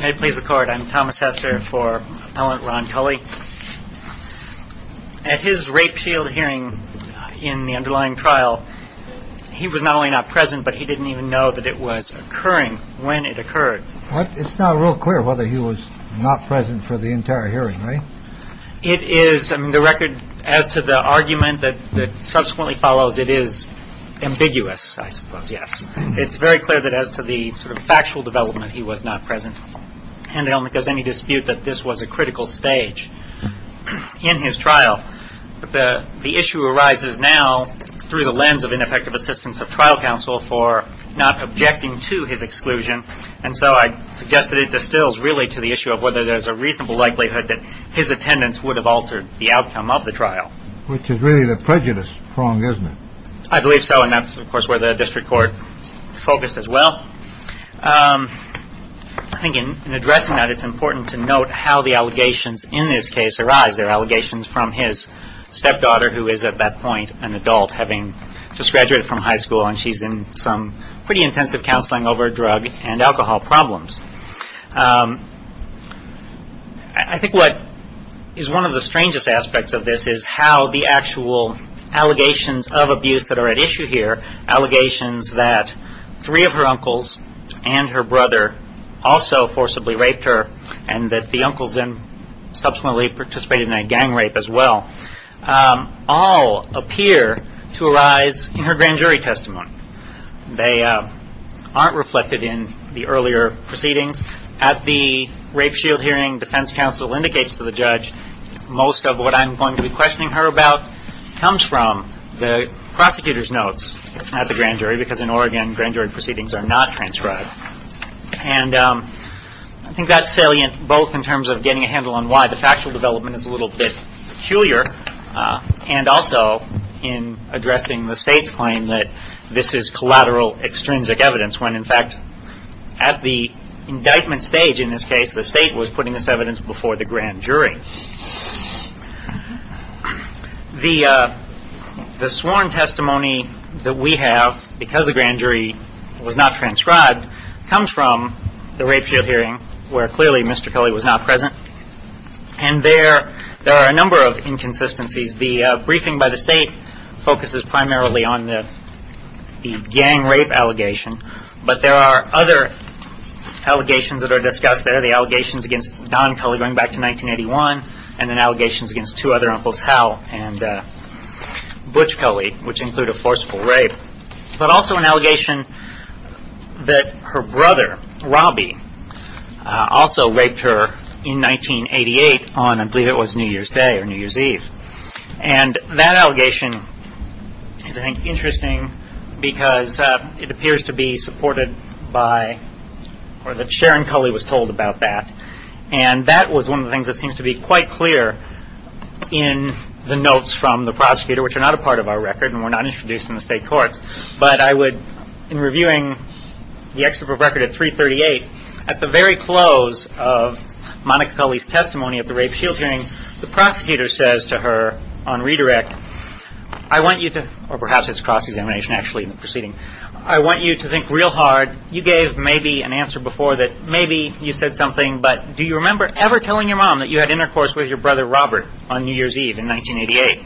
May it please the court. I'm Thomas Hester for Appellant Ron Culley. At his rape shield hearing in the underlying trial, he was not only not present, but he didn't even know that it was occurring when it occurred. It's now real clear whether he was not present for the entire hearing, right? It is. I mean, the record as to the argument that subsequently follows, it is ambiguous, I suppose, yes. It's very clear that as to the sort of factual development, he was not present. And I don't think there's any dispute that this was a critical stage in his trial. But the issue arises now through the lens of ineffective assistance of trial counsel for not objecting to his exclusion. And so I suggest that it distills really to the issue of whether there's a reasonable likelihood that his attendance would have altered the outcome of the trial. Which is really the prejudice prong, isn't it? I believe so. And that's, of course, where the district court focused as well. I think in addressing that, it's important to note how the allegations in this case arise. They're allegations from his stepdaughter, who is at that point an adult, having just graduated from high school. And she's in some pretty intensive counseling over drug and alcohol problems. I think what is one of the strangest aspects of this is how the actual allegations of abuse that are at issue here, allegations that three of her uncles and her brother also forcibly raped her, and that the uncles then subsequently participated in that gang rape as well, all appear to arise in her grand jury testimony. They aren't reflected in the earlier proceedings. At the rape shield hearing, defense counsel indicates to the judge, most of what I'm going to be questioning her about comes from the prosecutor's notes at the grand jury, because in Oregon, grand jury proceedings are not transcribed. And I think that's salient both in terms of getting a handle on why the factual development is a little bit peculiar, and also in addressing the state's claim that this is collateral extrinsic evidence, when, in fact, at the indictment stage in this case, the state was putting this evidence before the grand jury. The sworn testimony that we have, because the grand jury was not transcribed, comes from the rape shield hearing, where clearly Mr. Culley was not present. And there are a number of inconsistencies. The briefing by the state focuses primarily on the gang rape allegation, but there are other allegations that are discussed there, the allegations against Don Culley going back to 1981, and then allegations against two other uncles, Hal and Butch Culley, which include a forceful rape, but also an allegation that her brother, Robbie, also raped her in 1988 on, I believe it was New Year's Day or New Year's Eve. And that allegation is, I think, interesting because it appears to be supported by, or that Sharon Culley was told about that, and that was one of the things that seems to be quite clear in the notes from the prosecutor, which are not a part of our record and were not introduced in the state courts, but I would, in reviewing the excerpt of record at 338, at the very close of Monica Culley's testimony at the rape shield hearing, the prosecutor says to her on redirect, I want you to, or perhaps it's cross-examination actually in the proceeding, I want you to think real hard, you gave maybe an answer before that maybe you said something, but do you remember ever telling your mom that you had intercourse with your brother Robert on New Year's Eve in 1988?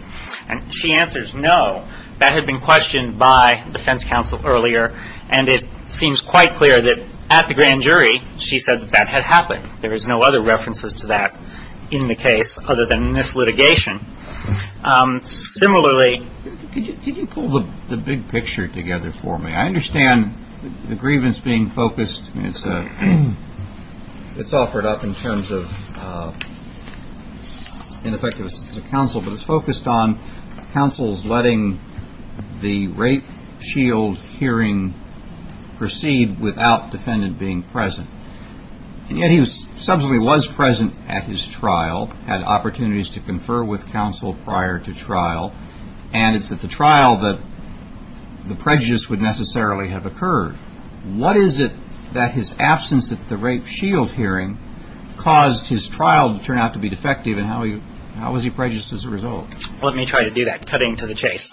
And she answers, no, that had been questioned by defense counsel earlier, and it seems quite clear that at the grand jury she said that that had happened. There is no other references to that in the case other than in this litigation. Similarly... Could you pull the big picture together for me? I understand the grievance being focused, it's offered up in terms of ineffective assistance of counsel, but it's focused on counsel's letting the rape shield hearing proceed without defendant being present. And yet he subsequently was present at his trial, had opportunities to confer with counsel prior to trial, and it's at the trial that the prejudice would necessarily have occurred. What is it that his absence at the rape shield hearing caused his trial to turn out to be defective and how was he prejudiced as a result? Let me try to do that, cutting to the chase.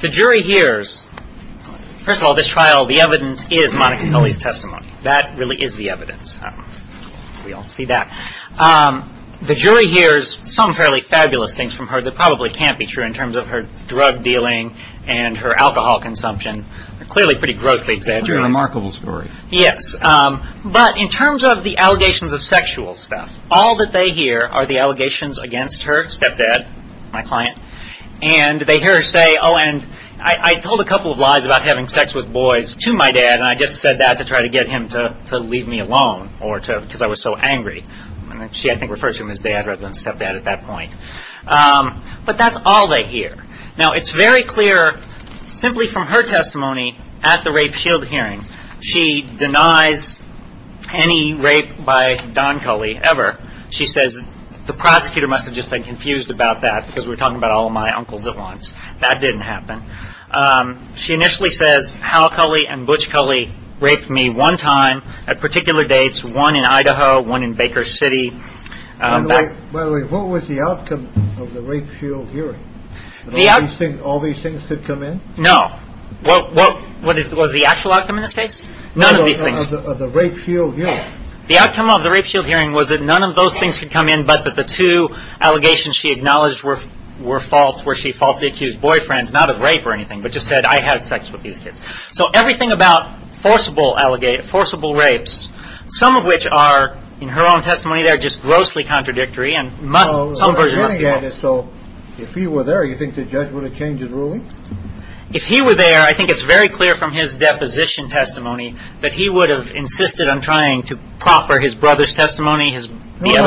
The jury hears, first of all, this trial, the evidence is Monica Kelly's testimony. That really is the evidence. We all see that. The jury hears some fairly fabulous things from her that probably can't be true in terms of her drug dealing and her alcohol consumption, clearly pretty grossly exaggerated. It's a remarkable story. Yes, but in terms of the allegations of sexual stuff, all that they hear are the allegations against her, stepdad, my client, and they hear her say, oh, and I told a couple of lies about having sex with boys to my dad and I just said that to try to get him to leave me alone because I was so angry. She, I think, refers to him as dad rather than stepdad at that point. But that's all they hear. Now, it's very clear simply from her testimony at the rape shield hearing. She denies any rape by Don Culley ever. She says the prosecutor must have just been confused about that because we're talking about all of my uncles at once. That didn't happen. She initially says Hal Culley and Butch Culley raped me one time at particular dates, one in Idaho, one in Baker City. By the way, what was the outcome of the rape shield hearing? All these things could come in? No. What was the actual outcome in this case? None of these things. Of the rape shield hearing. The outcome of the rape shield hearing was that none of those things could come in but that the two allegations she acknowledged were false, were she falsely accused boyfriends, not of rape or anything, but just said I had sex with these kids. So everything about forcible rapes, some of which are, in her own testimony, they're just grossly contradictory and some versions must be false. So if he were there, do you think the judge would have changed his ruling? If he were there, I think it's very clear from his deposition testimony that he would have insisted on trying to proffer his brother's testimony. No,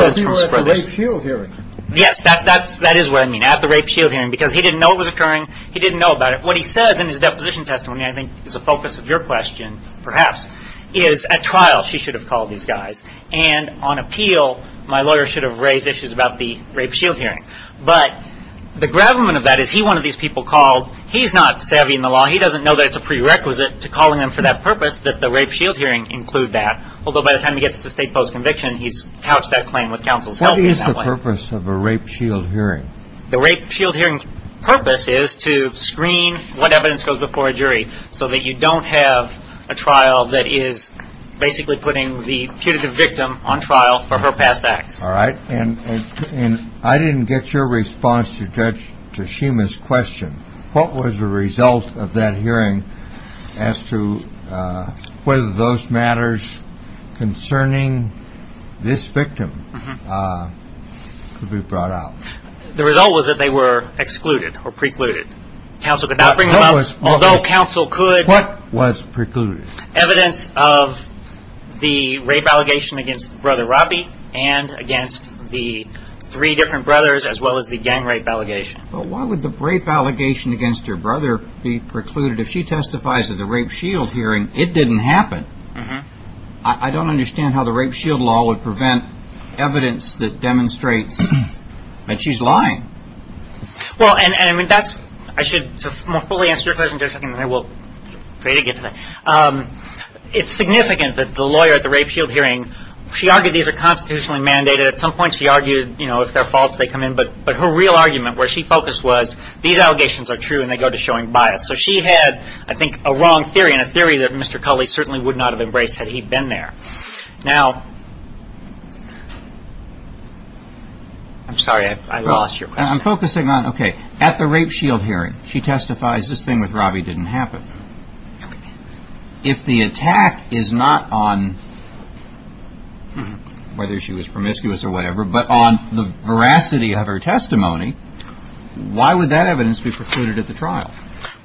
if he were at the rape shield hearing. Yes, that is what I mean, at the rape shield hearing, because he didn't know it was occurring. He didn't know about it. What he says in his deposition testimony, I think is a focus of your question perhaps, is at trial she should have called these guys and on appeal my lawyer should have raised issues about the rape shield hearing. But the gravamen of that is he wanted these people called. He's not savvy in the law. He doesn't know that it's a prerequisite to calling them for that purpose, that the rape shield hearing include that, although by the time he gets to state post-conviction, he's couched that claim with counsel's help in that way. What is the purpose of a rape shield hearing? The rape shield hearing purpose is to screen what evidence goes before a jury so that you don't have a trial that is basically putting the punitive victim on trial for her past acts. All right. And I didn't get your response to Judge Tashima's question. What was the result of that hearing as to whether those matters concerning this victim could be brought out? The result was that they were excluded or precluded. Counsel could not bring them up, although counsel could. What was precluded? Evidence of the rape allegation against Brother Robbie and against the three different brothers as well as the gang rape allegation. But why would the rape allegation against your brother be precluded? If she testifies at the rape shield hearing, it didn't happen. I don't understand how the rape shield law would prevent evidence that demonstrates that she's lying. Well, and I should more fully answer your question in just a second. I will try to get to that. It's significant that the lawyer at the rape shield hearing, she argued these are constitutionally mandated. At some point she argued if they're false, they come in. But her real argument where she focused was these allegations are true and they go to showing bias. So she had, I think, a wrong theory and a theory that Mr. Culley certainly would not have embraced had he been there. Now, I'm sorry, I lost your question. I'm focusing on, okay, at the rape shield hearing, she testifies this thing with Robbie didn't happen. If the attack is not on whether she was promiscuous or whatever, but on the veracity of her testimony, why would that evidence be precluded at the trial?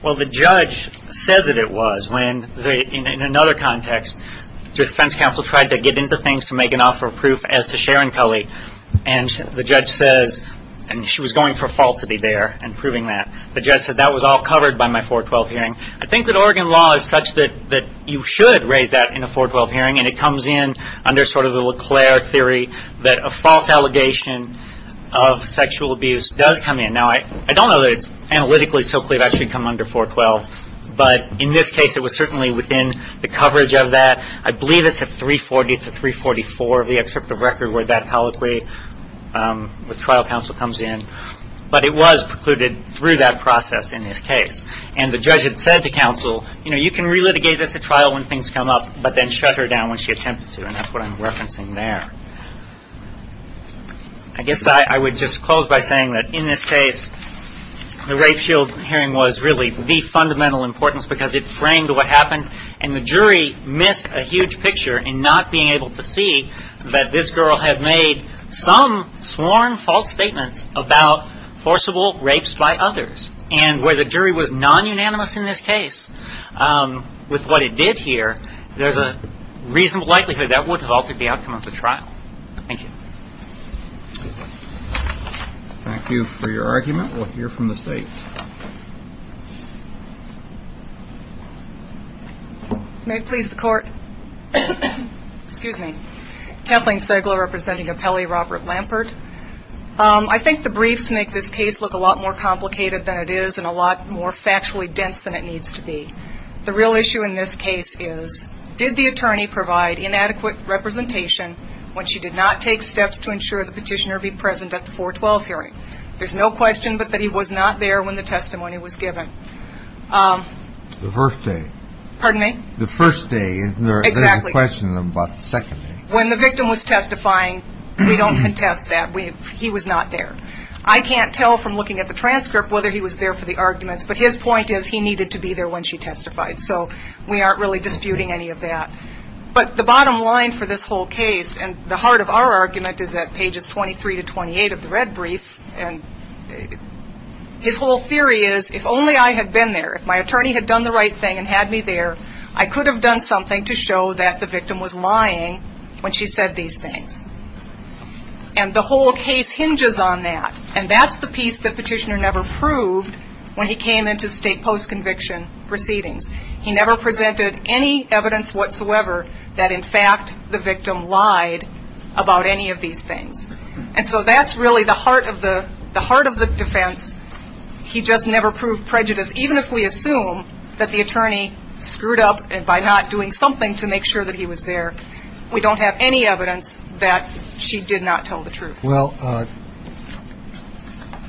Well, the judge said that it was when, in another context, defense counsel tried to get into things to make an offer of proof as to Sharon Culley. And the judge says, and she was going for falsity there and proving that. The judge said that was all covered by my 412 hearing. I think that Oregon law is such that you should raise that in a 412 hearing and it comes in under sort of the LeClaire theory that a false allegation of sexual abuse does come in. Now, I don't know that it's analytically so clear that it should come under 412, but in this case it was certainly within the coverage of that. I believe it's at 340 to 344 of the excerpt of record where that colloquy with trial counsel comes in. But it was precluded through that process in this case. And the judge had said to counsel, you know, you can relitigate this at trial when things come up, but then shut her down when she attempted to, and that's what I'm referencing there. I guess I would just close by saying that in this case, the rape shield hearing was really the fundamental importance because it framed what happened and the jury missed a huge picture in not being able to see that this girl had made some sworn false statements about forcible rapes by others. And where the jury was non-unanimous in this case with what it did here, there's a reasonable likelihood that would have altered the outcome of the trial. Thank you. Thank you for your argument. We'll hear from the state. May it please the Court. Excuse me. Kathleen Segla representing Apelli Robert Lampert. I think the briefs make this case look a lot more complicated than it is and a lot more factually dense than it needs to be. The real issue in this case is did the attorney provide inadequate representation when she did not take steps to ensure the petitioner be present at the 412 hearing? There's no question but that he was not there when the testimony was given. The first day. Pardon me? The first day. Exactly. There's a question about the second day. When the victim was testifying, we don't contest that. He was not there. I can't tell from looking at the transcript whether he was there for the arguments, but his point is he needed to be there when she testified. So we aren't really disputing any of that. But the bottom line for this whole case, and the heart of our argument is at pages 23 to 28 of the red brief, and his whole theory is if only I had been there, if my attorney had done the right thing and had me there, I could have done something to show that the victim was lying when she said these things. And the whole case hinges on that. And that's the piece that Petitioner never proved when he came into state post-conviction proceedings. He never presented any evidence whatsoever that, in fact, the victim lied about any of these things. And so that's really the heart of the defense. He just never proved prejudice. Even if we assume that the attorney screwed up by not doing something to make sure that he was there, we don't have any evidence that she did not tell the truth. Well,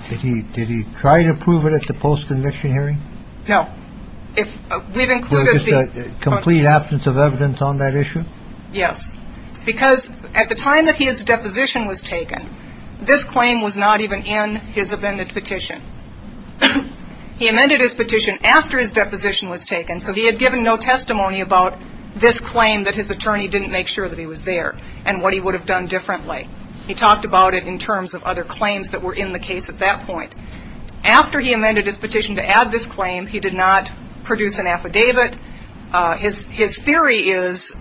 did he try to prove it at the post-conviction hearing? No. We've included the complete absence of evidence on that issue. Yes. Because at the time that his deposition was taken, this claim was not even in his amended petition. He amended his petition after his deposition was taken. So he had given no testimony about this claim that his attorney didn't make sure that he was there and what he would have done differently. He talked about it in terms of other claims that were in the case at that point. After he amended his petition to add this claim, he did not produce an affidavit. His theory is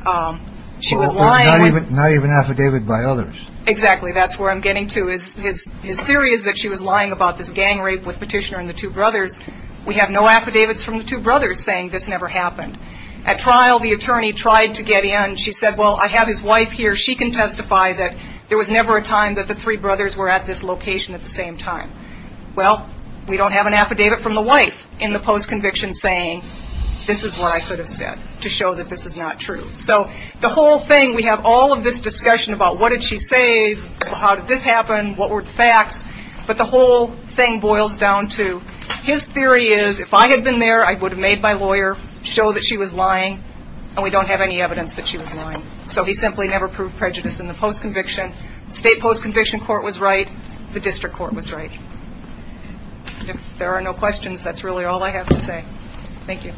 she was lying. Not even affidavit by others. Exactly. That's where I'm getting to. His theory is that she was lying about this gang rape with Petitioner and the two brothers. We have no affidavits from the two brothers saying this never happened. At trial, the attorney tried to get in. She said, well, I have his wife here. She can testify that there was never a time that the three brothers were at this location at the same time. Well, we don't have an affidavit from the wife in the post-conviction saying this is what I could have said to show that this is not true. So the whole thing, we have all of this discussion about what did she say, how did this happen, what were the facts, but the whole thing boils down to his theory is if I had been there, I would have made my lawyer show that she was lying, and we don't have any evidence that she was lying. So he simply never proved prejudice in the post-conviction. The state post-conviction court was right. The district court was right. If there are no questions, that's really all I have to say. Thank you.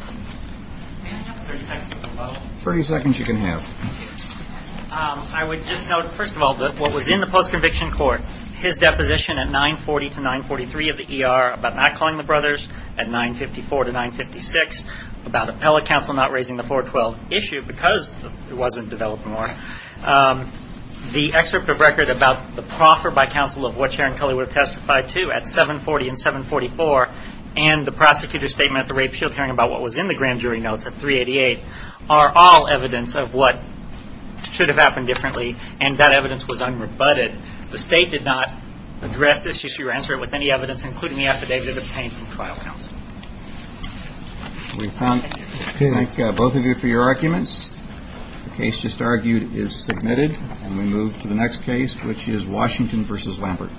Can I have 30 seconds to promote? 30 seconds you can have. Thank you. I would just note, first of all, that what was in the post-conviction court, his deposition at 940 to 943 of the ER about not calling the brothers at 954 to 956, about appellate counsel not raising the 412 issue because it wasn't developed more, the excerpt of record about the proffer by counsel of what Sharon Culley would have testified to at 740 and 744, and the prosecutor's statement at the rape shield hearing about what was in the grand jury notes at 388, are all evidence of what should have happened differently, and that evidence was unrebutted. The state did not address this issue or answer it with any evidence, including the affidavit obtained from trial counsel. We thank both of you for your arguments. The case just argued is submitted, and we move to the next case, which is Washington v. Lampert. Thank you.